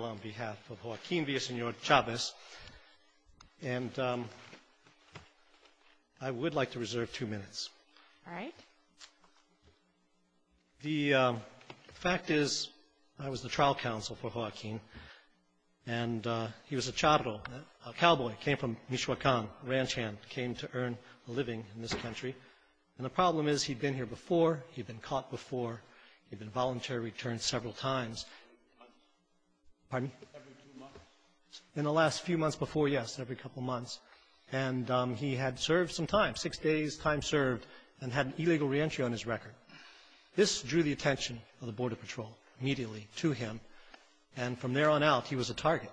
on behalf of Joaquin Villasenor-Chavez, and I would like to reserve two minutes. The fact is, I was the trial counsel for Joaquin, and he was a charro, a cowboy, came from Michoacan, ranch hand, came to earn a living in this country. And the problem is, he'd been here before, he'd been caught before, he'd been voluntary returned several times. Pardon me? Every two months. In the last few months before, yes, every couple months. And he had served some time, six days' time served, and had an illegal reentry on his record. This drew the attention of the Border Patrol immediately to him, and from there on out, he was a target.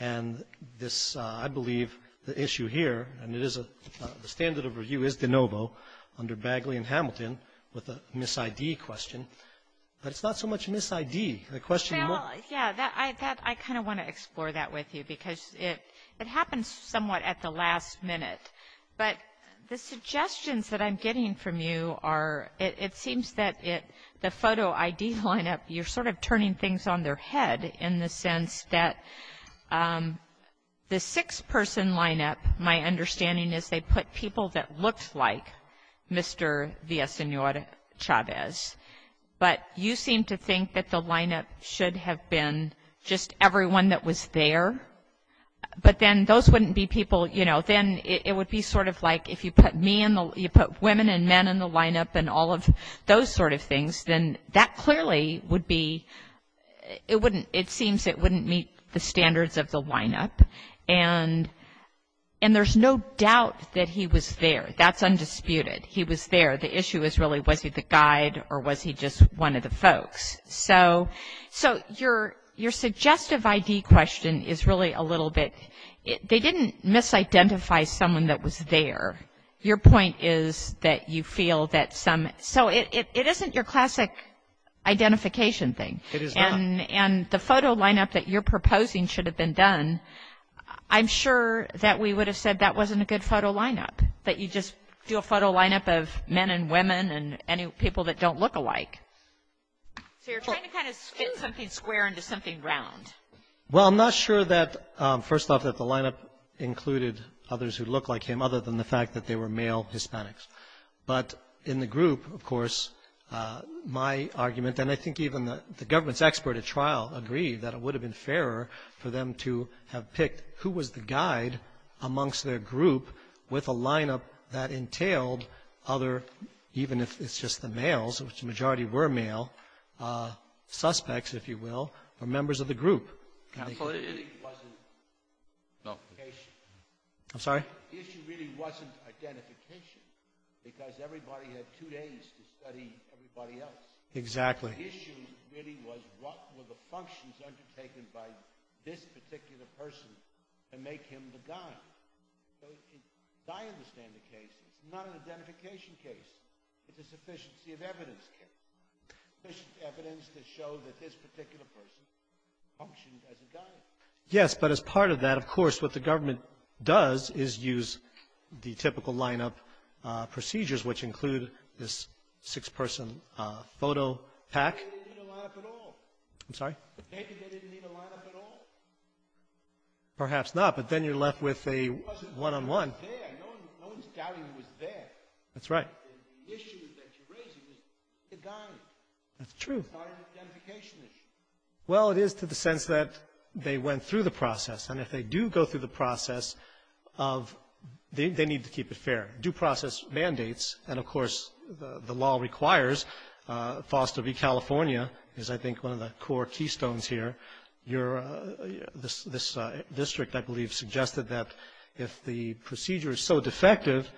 And this, I believe, the issue here, and it is, the standard of review is de novo, under Bagley and Hamilton, with a mis-ID question. But it's not so much mis-ID, the question Well, yeah, that, I kind of want to explore that with you, because it happens somewhat at the last minute. But the suggestions that I'm getting from you are, it seems that it, the photo ID line-up, you're sort of turning things on their head, in the sense that the six-person line-up, my understanding is, they put people that looked like Mr. Villaseñor Chavez. But you seem to think that the line-up should have been just everyone that was there. But then those wouldn't be people, you know, then it would be sort of like, if you put me in the, you put women and men in the line-up and all of those sort of things, then that clearly would be, it wouldn't, it seems it wouldn't meet the standards of the line-up. And there's no doubt that he was there. That's undisputed. He was there. The issue is really, was he the guide, or was he just one of the folks? So your suggestive ID question is really a little bit, they didn't mis-identify someone that was there. Your point is that you feel that some, so it isn't your classic identification thing. It is not. And the photo line-up that you're proposing should have been done. I'm sure that we would have said that wasn't a good photo line-up, that you just do a photo line-up of men and women and any people that don't look alike. So you're trying to kind of fit something square into something round. Well, I'm not sure that, first off, that the line-up included others who look like him, other than the fact that they were male Hispanics. But in the group, of course, my argument, and I think even the government's expert at trial agreed that it would have been fairer for them to have picked who was the guide amongst their group with a line-up that entailed other, even if it's just the males, which the majority were male, suspects, if you will, or members of the group. The issue really wasn't identification, because everybody had two days to study everybody else. The issue really was, what were the functions undertaken by this particular person to make him the guide? So, as I understand the case, it's not an identification case. It's a sufficiency of evidence case, sufficient evidence to show that this particular person functioned as a guide. Yes, but as part of that, of course, what the government does is use the typical line-up procedures, which include this six-person photo pack. Maybe they didn't need a line-up at all. Perhaps not, but then you're left with a one-on-one. That's right. That's true. Well, it is to the sense that they went through the process, and if they do go through the process, they need to keep it fair. Due process mandates, and, of course, the law requires Foster v. California, is I think one of the core keystones here. This district, I believe, suggested that if the procedure is so defective,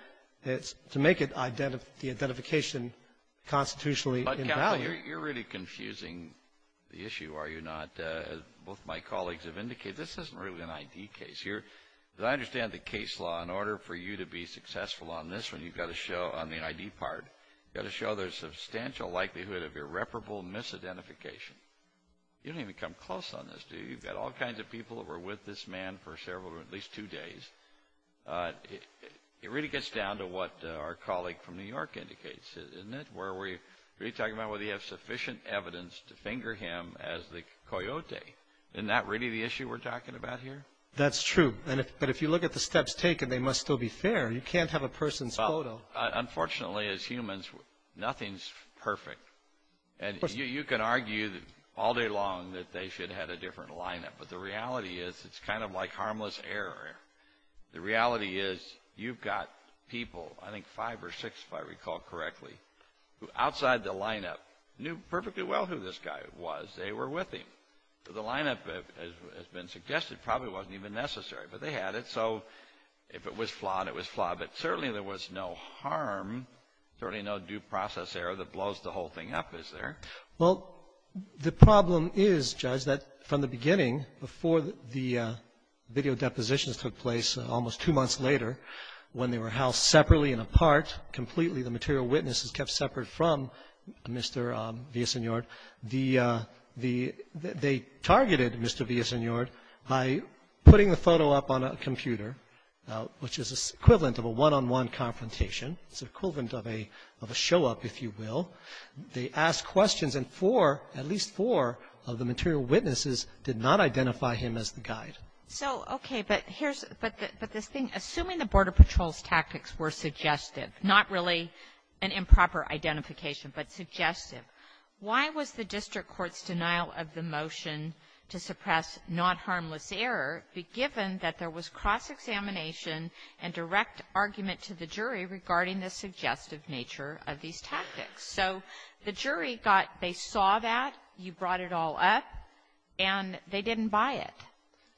it's to make the identification constitutionally invalid. You're really confusing the issue, are you not? As both my colleagues have indicated, this isn't really an ID case. As I understand the case law, in order for you to be successful on this one, you've got to show on the ID part, you've got to show there's substantial likelihood of irreparable misidentification. You don't even come close on this, do you? You've got all kinds of people who were with this man for several, at least two days. It really gets down to what our colleague from New York indicates, isn't it, where we're really talking about whether you have sufficient evidence to finger him as the coyote. Isn't that really the issue we're talking about here? That's true. But if you look at the steps taken, they must still be fair. You can't have a person's photo. Unfortunately, as humans, nothing's perfect. And you can argue all day long that they should have had a different lineup. But the reality is it's kind of like harmless error. The reality is you've got people, I think five or six, if I recall correctly, who outside the lineup knew perfectly well who this guy was. They were with him. The lineup, as has been suggested, probably wasn't even necessary. But they had it. So if it was flawed, it was flawed. But certainly there was no harm, certainly no due process error that blows the whole thing up, is there? Well, the problem is, Judge, that from the beginning, before the video depositions took place, almost two months later, when they were housed separately and apart, completely the material witnesses kept separate from Mr. Villasenor, the the they targeted Mr. Villasenor by putting the photo up on a computer, which is equivalent of a one-on-one confrontation. It's equivalent of a show-up, if you will. They asked questions, and four, at least four of the material witnesses did not identify him as the guide. Kagan. So, okay, but here's the thing. Assuming the Border Patrol's tactics were suggestive, not really an improper identification, but suggestive, why was the district court's denial of the motion to suppress not-harmless error be given that there was cross-examination and direct argument to the jury regarding the suggestive nature of these tactics? So the jury got they saw that, you brought it all up, and they didn't buy it.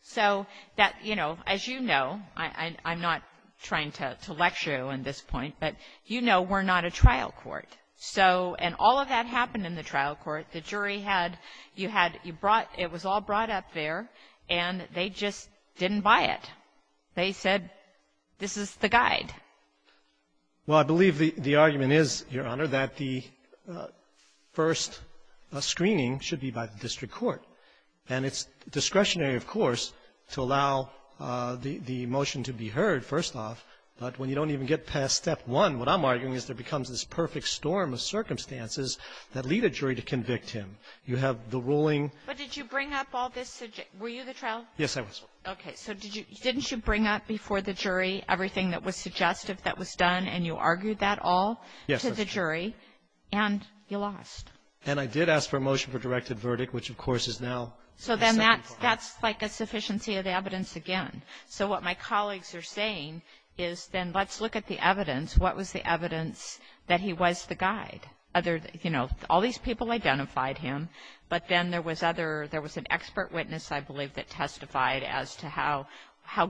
So that, you know, as you know, I'm not trying to lecture you on this point, but you know we're not a trial court. So and all of that happened in the trial court. The jury had you had you brought it was all brought up there, and they just didn't buy it. They said this is the guide. Well, I believe the argument is, Your Honor, that the first screening should be by the district court. And it's discretionary, of course, to allow the motion to be heard, first off. But when you don't even get past step one, what I'm arguing is there becomes this perfect storm of circumstances that lead a jury to convict him. You have the ruling. But did you bring up all this? Were you the trial? Yes, I was. Okay. So didn't you bring up before the jury everything that was suggestive that was done, and you argued that all to the jury? Yes, I did. And you lost. And I did ask for a motion for directed verdict, which, of course, is now the second part. So then that's like a sufficiency of the evidence again. So what my colleagues are saying is then let's look at the evidence. What was the evidence that he was the guide? Other, you know, all these people identified him, but then there was other witness, I believe, that testified as to how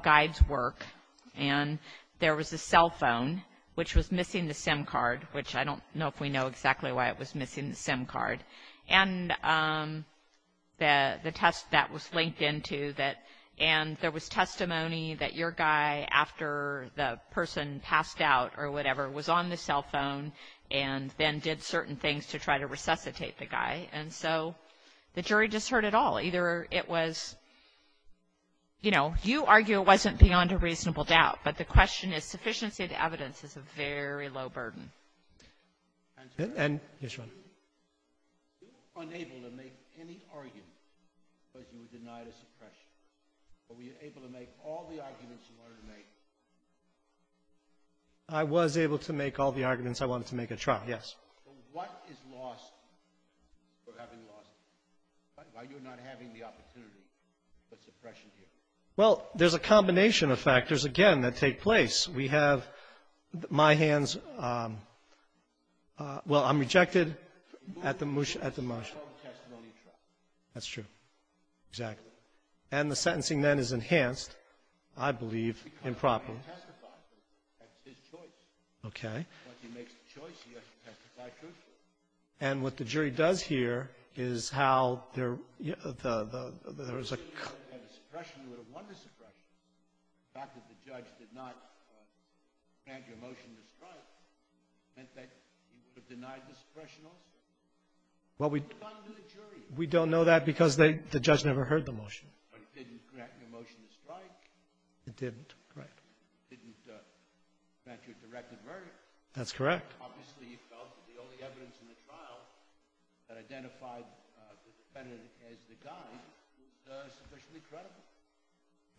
guides work. And there was a cell phone, which was missing the SIM card, which I don't know if we know exactly why it was missing the SIM card. And the test that was linked into that, and there was testimony that your guy after the person passed out or whatever was on the cell phone and then did certain things to try to resuscitate the guy. And so the jury just heard it all. Either it was, you know, you argue it wasn't beyond a reasonable doubt, but the question is sufficiency of the evidence is a very low burden. And, yes, Your Honor. Were you unable to make any argument because you were denied a suppression? Or were you able to make all the arguments you wanted to make? I was able to make all the arguments I wanted to make at trial, yes. But what is lost for having lost? Why are you not having the opportunity for suppression here? Well, there's a combination of factors, again, that take place. We have my hands. Well, I'm rejected at the motion. That's true. Exactly. And the sentencing then is enhanced, I believe, improperly. Because he testified. That's his choice. Okay. But he makes the choice he has to testify truthfully. And what the jury does here is how there was a – Suppression would have won the suppression. The fact that the judge did not grant you a motion to strike meant that you were denied the suppression also? Well, we don't know that because the judge never heard the motion. But it didn't grant you a motion to strike. It didn't, right. It didn't grant you a directed verdict. That's correct. Obviously, you felt that the only evidence in the trial that identified the defendant as the guy was sufficiently credible.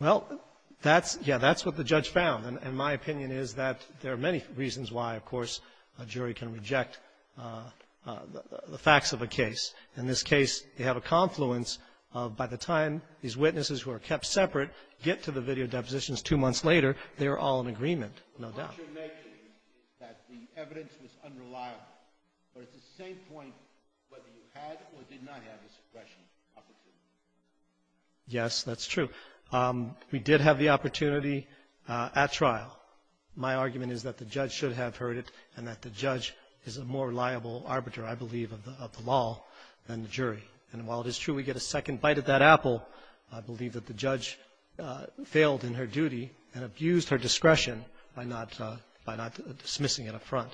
Well, that's – yeah, that's what the judge found. And my opinion is that there are many reasons why, of course, a jury can reject the facts of a case. In this case, they have a confluence of by the time these witnesses who are kept separate get to the video depositions two months later, they are all in agreement, no doubt. The point you're making is that the evidence was unreliable. But at the same point, whether you had or did not have a suppression opportunity. Yes, that's true. We did have the opportunity at trial. My argument is that the judge should have heard it and that the judge is a more reliable arbiter, I believe, of the law than the jury. And while it is true we get a second bite of that apple, I believe that the judge failed in her duty and abused her discretion by not – by not dismissing an affront,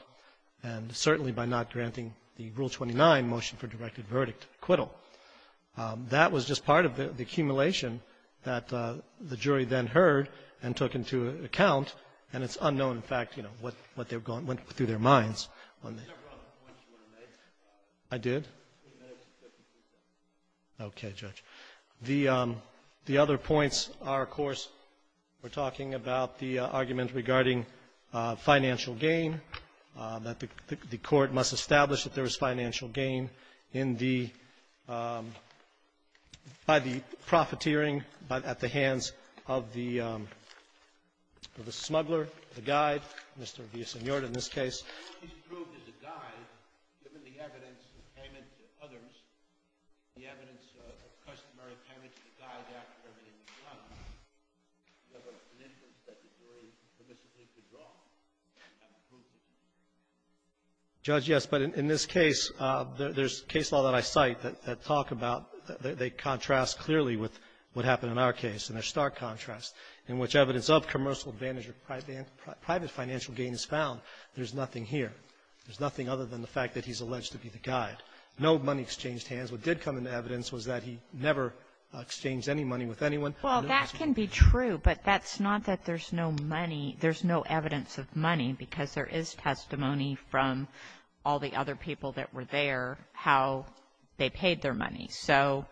and certainly by not granting the Rule 29 motion for directed verdict acquittal. That was just part of the accumulation that the jury then heard and took into account. And it's unknown, in fact, you know, what they've gone – went through their minds on the – I did? Okay, Judge. The other points are, of course, we're talking about the argument regarding financial gain, that the Court must establish that there was financial gain in the – by the profiteering at the hands of the smuggler, the guide, Mr. Villasenor, in this case. If he's proved as a guide, given the evidence of payment to others, the evidence of customary payment to the guide after everything was done, is there an inference that the jury permissibly withdrew that proof? Judge, yes, but in this case, there's case law that I cite that talk about – that contrasts clearly with what happened in our case, and there's stark contrast in which advantage or private financial gain is found, there's nothing here. There's nothing other than the fact that he's alleged to be the guide. No money exchanged hands. What did come into evidence was that he never exchanged any money with anyone. Well, that can be true, but that's not that there's no money – there's no evidence of money, because there is testimony from all the other people that were there how they paid their money. So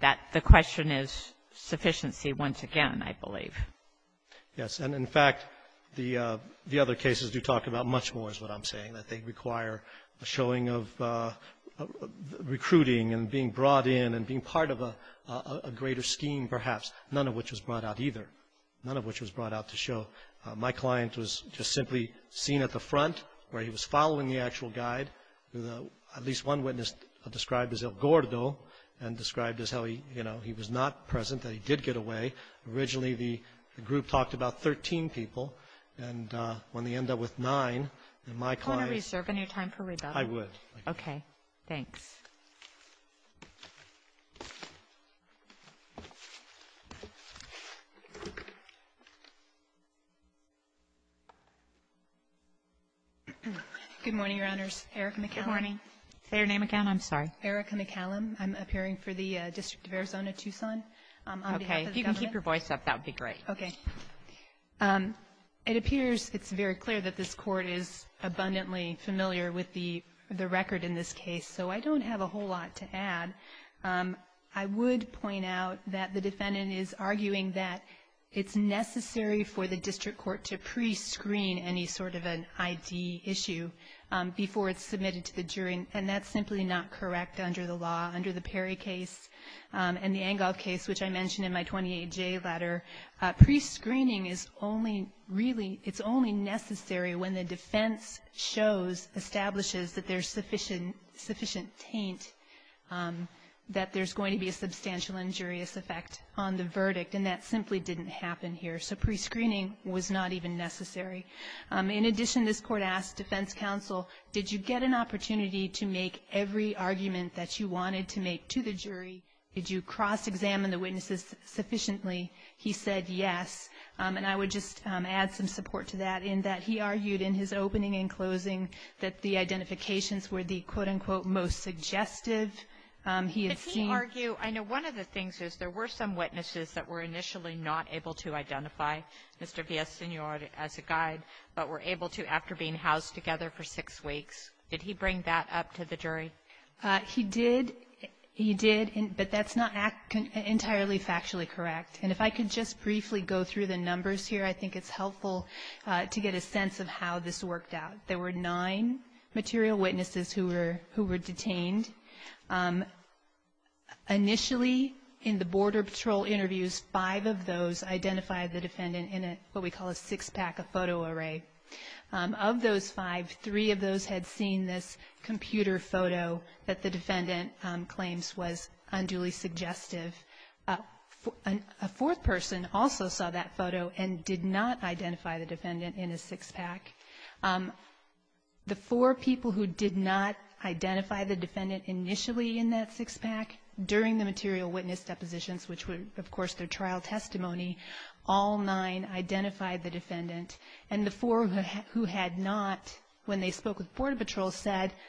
that – the question is sufficiency once again, I believe. Yes, and in fact, the other cases do talk about much more is what I'm saying, that they require a showing of recruiting and being brought in and being part of a greater scheme perhaps, none of which was brought out either, none of which was brought out to show. My client was just simply seen at the front where he was following the actual guide. At least one witness described as El Gordo and described as how he, you know, he was not present, that he did get away. Originally, the group talked about 13 people, and when they end up with nine, then my client – Do you want to reserve any time for rebuttal? I would. Okay. Thanks. Good morning, Your Honors. Erica McCallum. Good morning. Say your name again. I'm sorry. Erica McCallum. I'm appearing for the District of Arizona-Tucson on behalf of the government. Okay. If you can keep your voice up, that would be great. Okay. It appears it's very clear that this Court is abundantly familiar with the record in this case, so I don't have a whole lot to add. I would point out that the defendant is arguing that it's necessary for the district court to prescreen any sort of an ID issue before it's submitted to the jury, and that's simply not correct under the law. Under the Perry case and the Engle case, which I mentioned in my 28J letter, prescreening is only really – it's only necessary when the defense shows, establishes that there's sufficient taint that there's going to be a substantial injurious effect on the verdict, and that simply didn't happen here. So prescreening was not even necessary. In addition, this Court asked defense counsel, did you get an opportunity to make every argument that you wanted to make to the jury? Did you cross-examine the witnesses sufficiently? He said yes, and I would just add some support to that in that he argued in his opening and closing that the identifications were the, quote-unquote, most suggestive he had seen. But he argued – I know one of the things is there were some witnesses that were initially not able to identify Mr. Villaseñor as a guide, but were able to after being housed together for six weeks. Did he bring that up to the jury? He did. He did, but that's not entirely factually correct. And if I could just briefly go through the numbers here, I think it's helpful to get a sense of how this worked out. There were nine material witnesses who were detained. Initially, in the Border Patrol interviews, five of those identified the defendant in what we call a six-pack of photo array. Of those five, three of those had seen this computer photo that the defendant claims was unduly suggestive. A fourth person also saw that photo and did not identify the defendant in a six-pack. The four people who did not identify the defendant initially in that six-pack during the material witness depositions, which were, of course, their trial testimony, all nine identified the defendant. And the four who had not, when they spoke with us,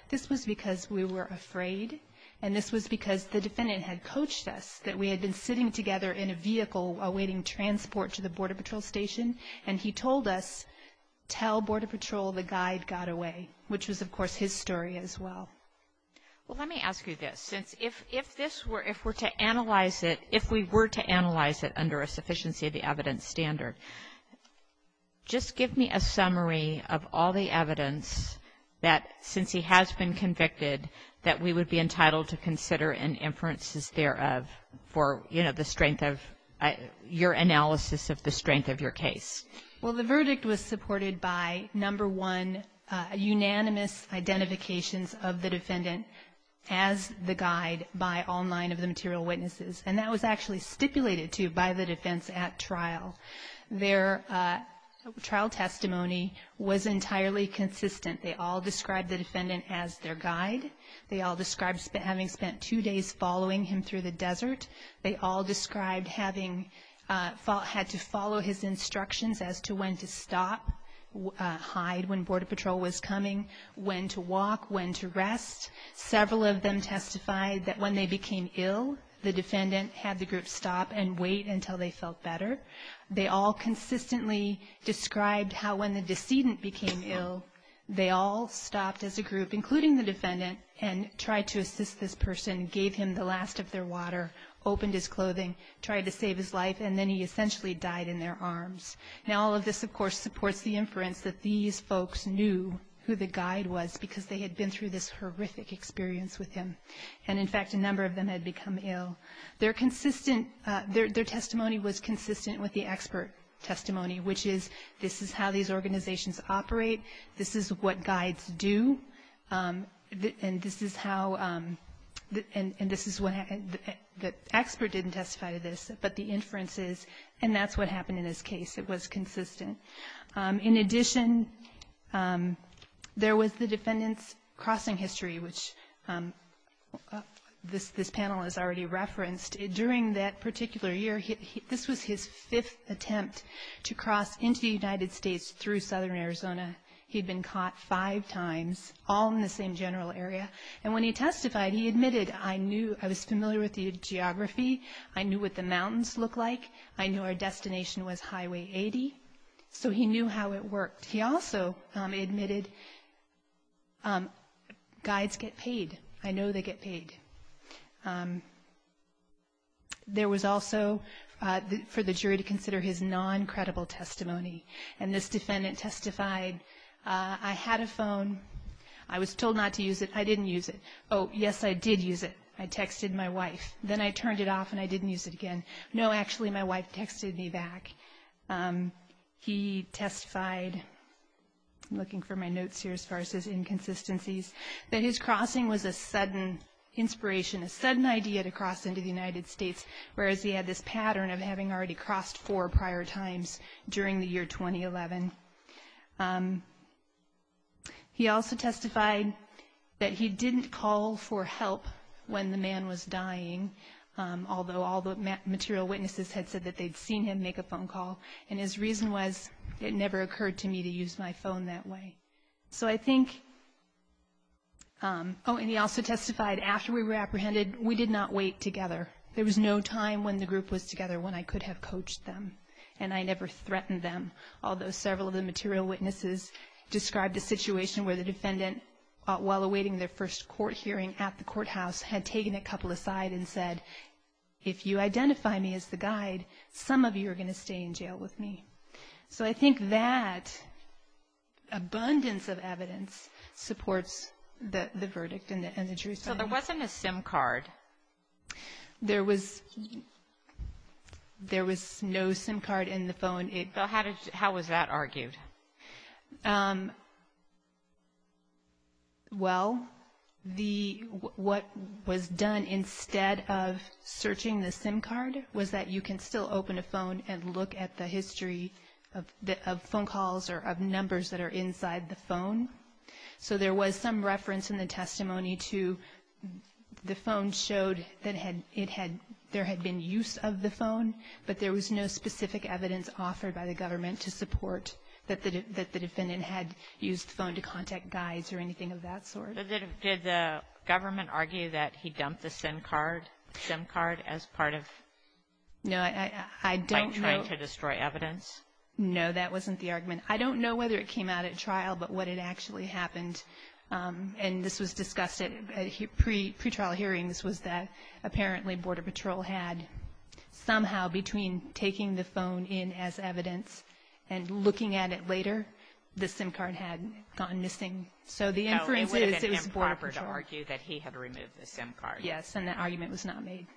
this was because we were afraid and this was because the defendant had coached us that we had been sitting together in a vehicle awaiting transport to the Border Patrol Station and he told us, tell Border Patrol the guide got away, which was, of course, his story as well. Well, let me ask you this. Since if this were, if we're to analyze it, if we were to analyze it under a sufficiency of the evidence standard, just give me a summary of all the evidence that, since he has been convicted, that we would be entitled to consider and inferences thereof for, you know, the strength of your analysis of the strength of your case. Well, the verdict was supported by, number one, unanimous identifications of the defendant as the guide by all nine of the material witnesses. And that was actually stipulated, too, by the defense at trial. Their trial testimony was entirely consistent. They all described the defendant as their guide. They all described having spent two days following him through the desert. They all described having, had to follow his instructions as to when to stop, hide when Border Patrol was coming, when to walk, when to rest. Several of them testified that when they became ill, the defendant had the group stop and wait until they felt better. They all consistently described how when the decedent became ill, they all stopped as a group, including the defendant, and tried to assist this person, gave him the last of their water, opened his clothing, tried to save his life, and then he essentially died in their arms. Now, all of this, of course, supports the inference that these folks knew who the guide was because they had been through this horrific experience with him. And, in fact, a number of them had become ill. Their consistent, their testimony was consistent with the expert testimony, which is this is how these organizations operate, this is what guides do, and this is how, and this is what, the expert didn't testify to this, but the inference is, and that's what happened in his case. It was consistent. In addition, there was the defendant's crossing history, which this panel has already referenced. During that particular year, this was his fifth attempt to cross into the United States through southern Arizona. He'd been caught five times, all in the same general area. And when he testified, he admitted, I knew, I was familiar with the geography, I knew what the mountains looked like, I knew our destination was Highway 80, so he knew how it worked. He also admitted guides get paid. I know they get paid. There was also, for the jury to consider his non-credible testimony, and this defendant testified, I had a phone. I was told not to use it. I didn't use it. Oh, yes, I did use it. I texted my wife. Then I turned it off and I didn't use it again. No, actually, my wife texted me back. He testified, I'm looking for my notes here as far as his inconsistencies, that his crossing was a sudden inspiration, a sudden idea to cross into the United States, whereas he had this pattern of having already crossed four prior times during the year 2011. He also testified that he didn't call for help when the man was dying, although all the material witnesses had said that they'd seen him make a phone call. And his reason was, it never occurred to me to use my phone that way. So I think, oh, and he also testified, after we were apprehended, we did not wait together. There was no time when the group was together when I could have coached them, and I never threatened them, although several of the material witnesses described a situation where the defendant, while awaiting their first court hearing at the courthouse, had taken a couple aside and said, if you identify me as the guide, some of you are going to stay in jail with me. So I think that abundance of information that he had. There was no SIM card in the phone. How was that argued? Well, what was done instead of searching the SIM card was that you can still open a phone and look at the history of phone calls or of numbers that are inside the phone. So there was some reference in the testimony to the phone showed that there had been use of the phone, but there was no specific evidence offered by the government to support that the defendant had used the phone to contact guides or anything of that sort. Did the government argue that he dumped the SIM card as part of trying to destroy evidence? No, that wasn't the argument. I don't know whether it came out at trial, but what had actually happened, and this was discussed at pretrial hearings, was that apparently Border Patrol had somehow between taking the phone in as evidence and looking at it later, the SIM card had gone missing. So the inference is it was Border Patrol. Yes, and that argument was not made.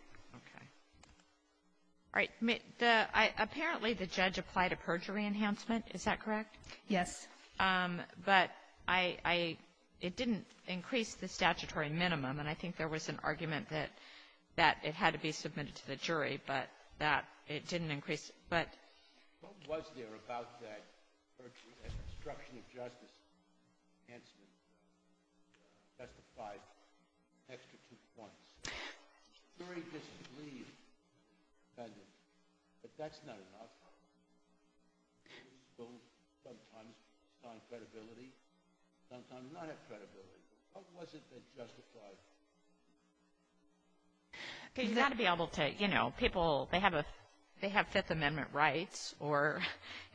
All right. Apparently, the judge applied a perjury enhancement. Is that correct? Yes. But I — it didn't increase the statutory minimum, and I think there was an argument that it had to be submitted to the jury, but that it didn't increase it. But — What was there about that perjury, that obstruction of justice enhancement that justified an extra two points? The jury disagreed with the defendant, but that's not enough. Sometimes non-credibility, sometimes non-credibility. What was it that justified it? Because you've got to be able to — you know, people, they have a — they have Fifth Amendment rights,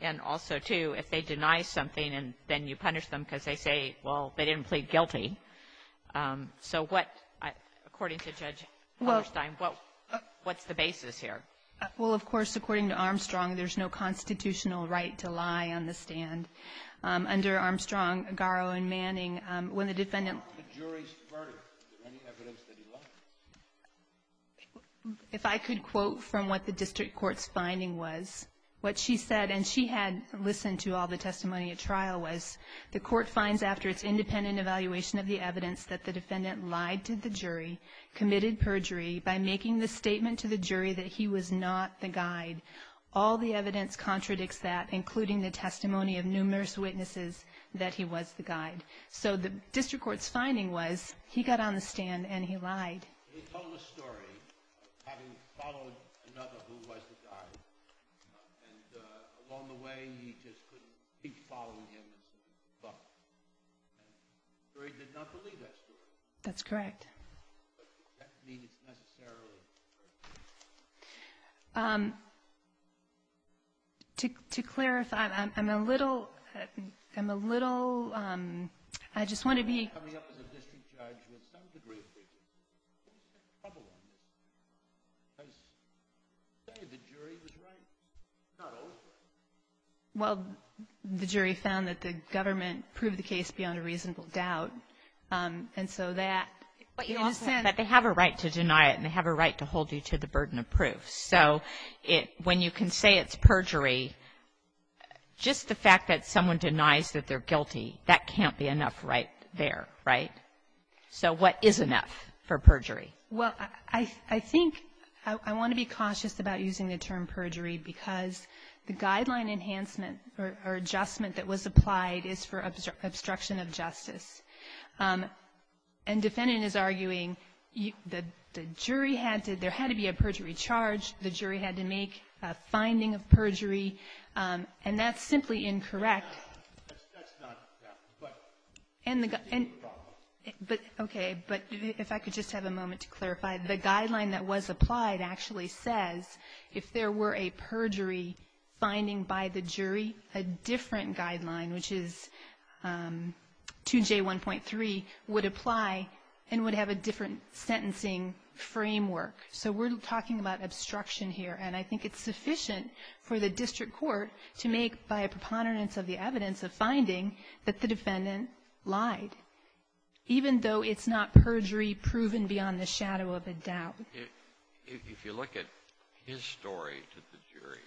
and also, too, if they deny something, then you punish them because they say, well, they didn't plead guilty. So what — according to Judge Hammerstein, what's the basis here? Well, of course, according to Armstrong, there's no constitutional right to lie on the stand. Under Armstrong, Garo, and Manning, when the defendant — If I could quote from what the district court's finding was, what she said, and she had listened to all the testimony at trial, was the court finds after its independent evaluation of the evidence that the defendant lied to the jury, committed perjury by making the statement to the jury that he was not the guide, all the evidence contradicts that, including the testimony of numerous witnesses that he was the guide. So the district court's finding was he got on the stand and he lied. He told a story of having followed another who was the guide, and along the way, he just couldn't keep following him until he was bucked. The jury did not believe that story. That's correct. But does that mean it's necessarily true? To clarify, I'm a little — I'm a little — I just want to be — Coming up as a district judge, you have some degree of freedom. What was the trouble on this? Because the jury was right. It's not always right. Well, the jury found that the government proved the case beyond a reasonable doubt, and so that, in a sense — But they have a right to deny it, and they have a right to hold you to the burden of proof. So when you can say it's perjury, just the fact that someone denies that they're guilty, that can't be enough right there, right? So what is enough for perjury? Well, I think — I want to be cautious about using the term perjury because the guideline enhancement or adjustment that was applied is for obstruction of justice. And defendant is arguing that the jury had to — there had to be a perjury charge. The jury had to make a finding of perjury. And that's simply incorrect. That's not — that's not — yeah. But — And the — But, okay. But if I could just have a moment to clarify, the guideline that was applied actually says if there were a perjury finding by the jury, a different guideline, which is 2J1.3, would apply and would have a different sentencing framework. So we're talking about obstruction here. And I think it's sufficient for the district court to make, by a preponderance of the evidence of finding, that the defendant lied, even though it's not perjury proven beyond the shadow of a doubt. If you look at his story to the jury,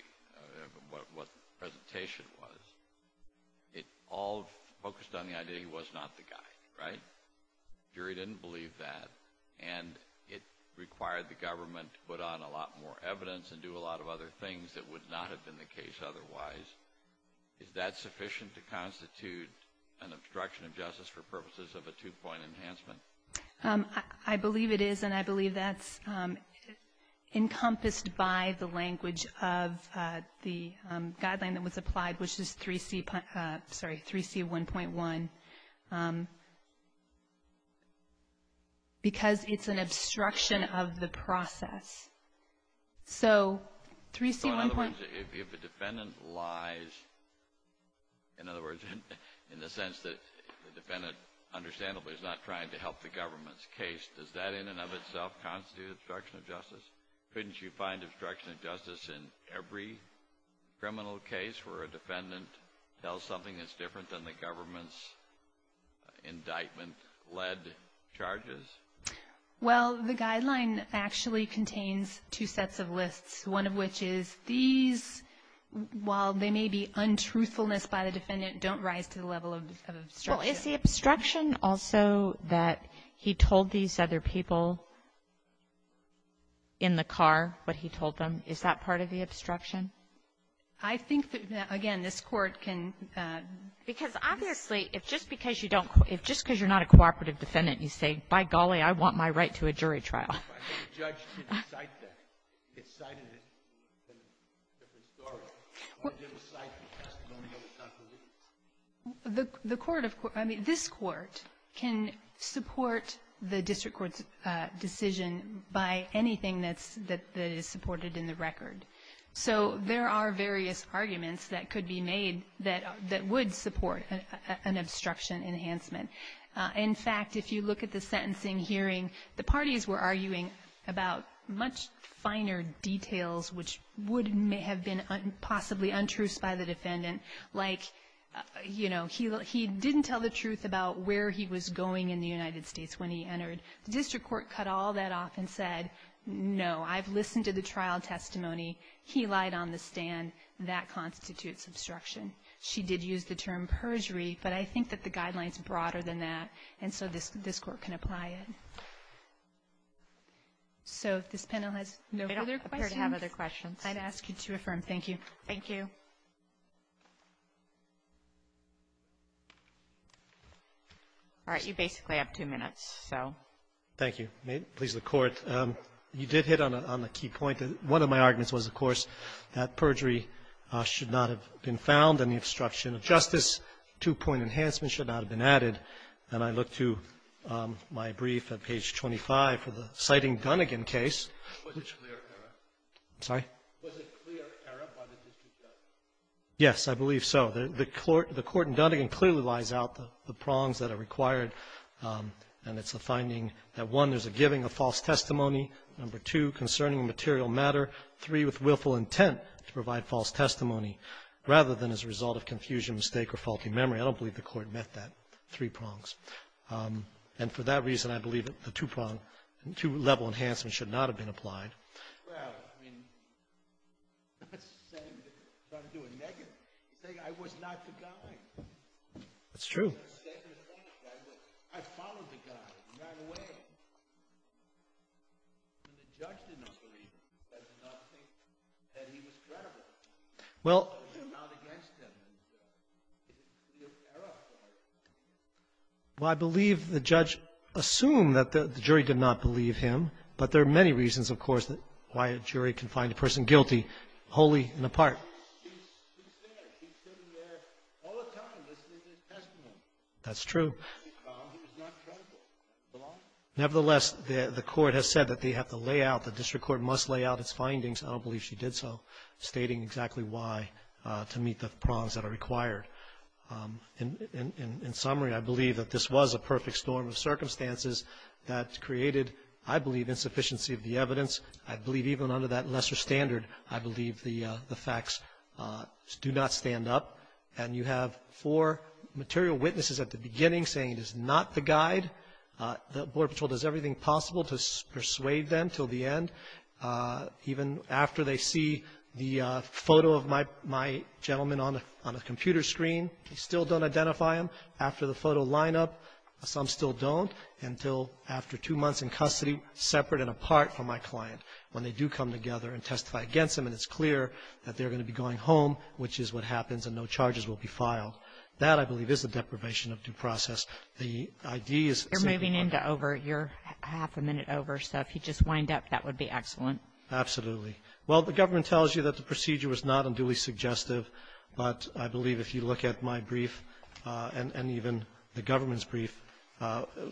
what the presentation was, it all focused on the idea he was not the guy, right? The jury didn't believe that. And it required the government to put on a lot more evidence and do a lot of other things that would not have been the case otherwise. Is that sufficient to constitute an obstruction of justice for purposes of a two-point enhancement? I believe it is, and I believe that's encompassed by the language of the guideline that was applied, which is 3C1.1, because it's an obstruction of the process. So 3C1.1 So in other words, if the defendant lies, in other words, in the sense that the government's case, does that in and of itself constitute obstruction of justice? Couldn't you find obstruction of justice in every criminal case where a defendant tells something that's different than the government's indictment-led charges? Well, the guideline actually contains two sets of lists, one of which is these, while they may be untruthfulness by the defendant, don't rise to the level of obstruction. Well, is the obstruction also that he told these other people in the car what he told them? Is that part of the obstruction? I think that, again, this Court can --. Because obviously, if just because you don't, if just because you're not a cooperative defendant, you say, by golly, I want my right to a jury trial. The judge didn't cite that. It cited it in a different story. I didn't cite it in a testimonial. It's not the case. The Court of Court of Justice, I mean, this Court can support the district court's decision by anything that is supported in the record. So there are various arguments that could be made that would support an obstruction enhancement. In fact, if you look at the sentencing hearing, the parties were arguing about much finer details which would have been possibly untruths by the defendant, like, you know, he didn't tell the truth about where he was going in the United States when he entered. The district court cut all that off and said, no, I've listened to the trial testimony. He lied on the stand. That constitutes obstruction. She did use the term perjury, but I think that the guideline is broader than that, and so this Court can apply it. So if this panel has no further questions. Kagan. I don't appear to have other questions. I'd ask you to affirm. Thank you. Thank you. All right. You basically have two minutes, so. Thank you. May it please the Court. You did hit on a key point. One of my arguments was, of course, that perjury should not have been found in the obstruction of justice, two-point enhancement should not have been added. And I look to my brief at page 25 for the citing Dunnigan case. Was it clear error? I'm sorry? Was it clear error by the district judge? Yes, I believe so. The court in Dunnigan clearly lies out the prongs that are required, and it's the giving of false testimony, number two, concerning a material matter, three, with willful intent to provide false testimony, rather than as a result of confusion, mistake, or faulty memory. I don't believe the Court met that three prongs. And for that reason, I believe that the two-prong, two-level enhancement should not have been applied. Well, I mean, it's the same thing. It's not to do a negative. It's saying I was not the guy. That's true. Well, I believe the judge assumed that the jury did not believe him. But there are many reasons, of course, why a jury can find a person guilty wholly and apart. He's there. He's sitting there all the time listening to his testimony. That's true. He was not credible. Nevertheless, the court has said that they have to lay out, the district court must lay out its findings. I don't believe she did so, stating exactly why, to meet the prongs that are required. In summary, I believe that this was a perfect storm of circumstances that created, I believe, insufficiency of the evidence. I believe even under that lesser standard, I believe the facts do not stand up. And you have four material witnesses at the beginning saying he is not the guide. The Border Patrol does everything possible to persuade them until the end. Even after they see the photo of my gentleman on the computer screen, they still don't identify him. After the photo lineup, some still don't until after two months in custody, separate and apart from my client. When they do come together and testify against him and it's clear that they're going to be going home, which is what happens, and no charges will be filed. That, I believe, is the deprivation of due process. The idea is simply what the ---- You're moving into over your half a minute over, so if you just wind up, that would be excellent. Absolutely. Well, the government tells you that the procedure was not unduly suggestive, but I believe if you look at my brief and even the government's brief,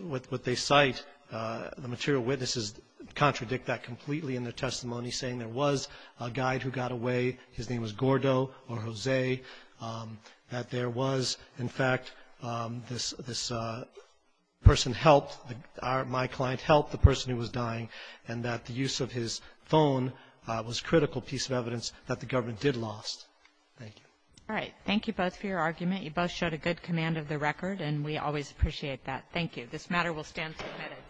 what they cite, the material witnesses contradict that completely in their testimony, saying there was a guide who got away. His name was Gordo or Jose, that there was, in fact, this person helped, my client helped the person who was dying, and that the use of his phone was a critical piece of evidence that the government did lost. Thank you. All right. Thank you both for your argument. You both showed a good command of the record, and we always appreciate that. Thank you. This matter will stand submitted.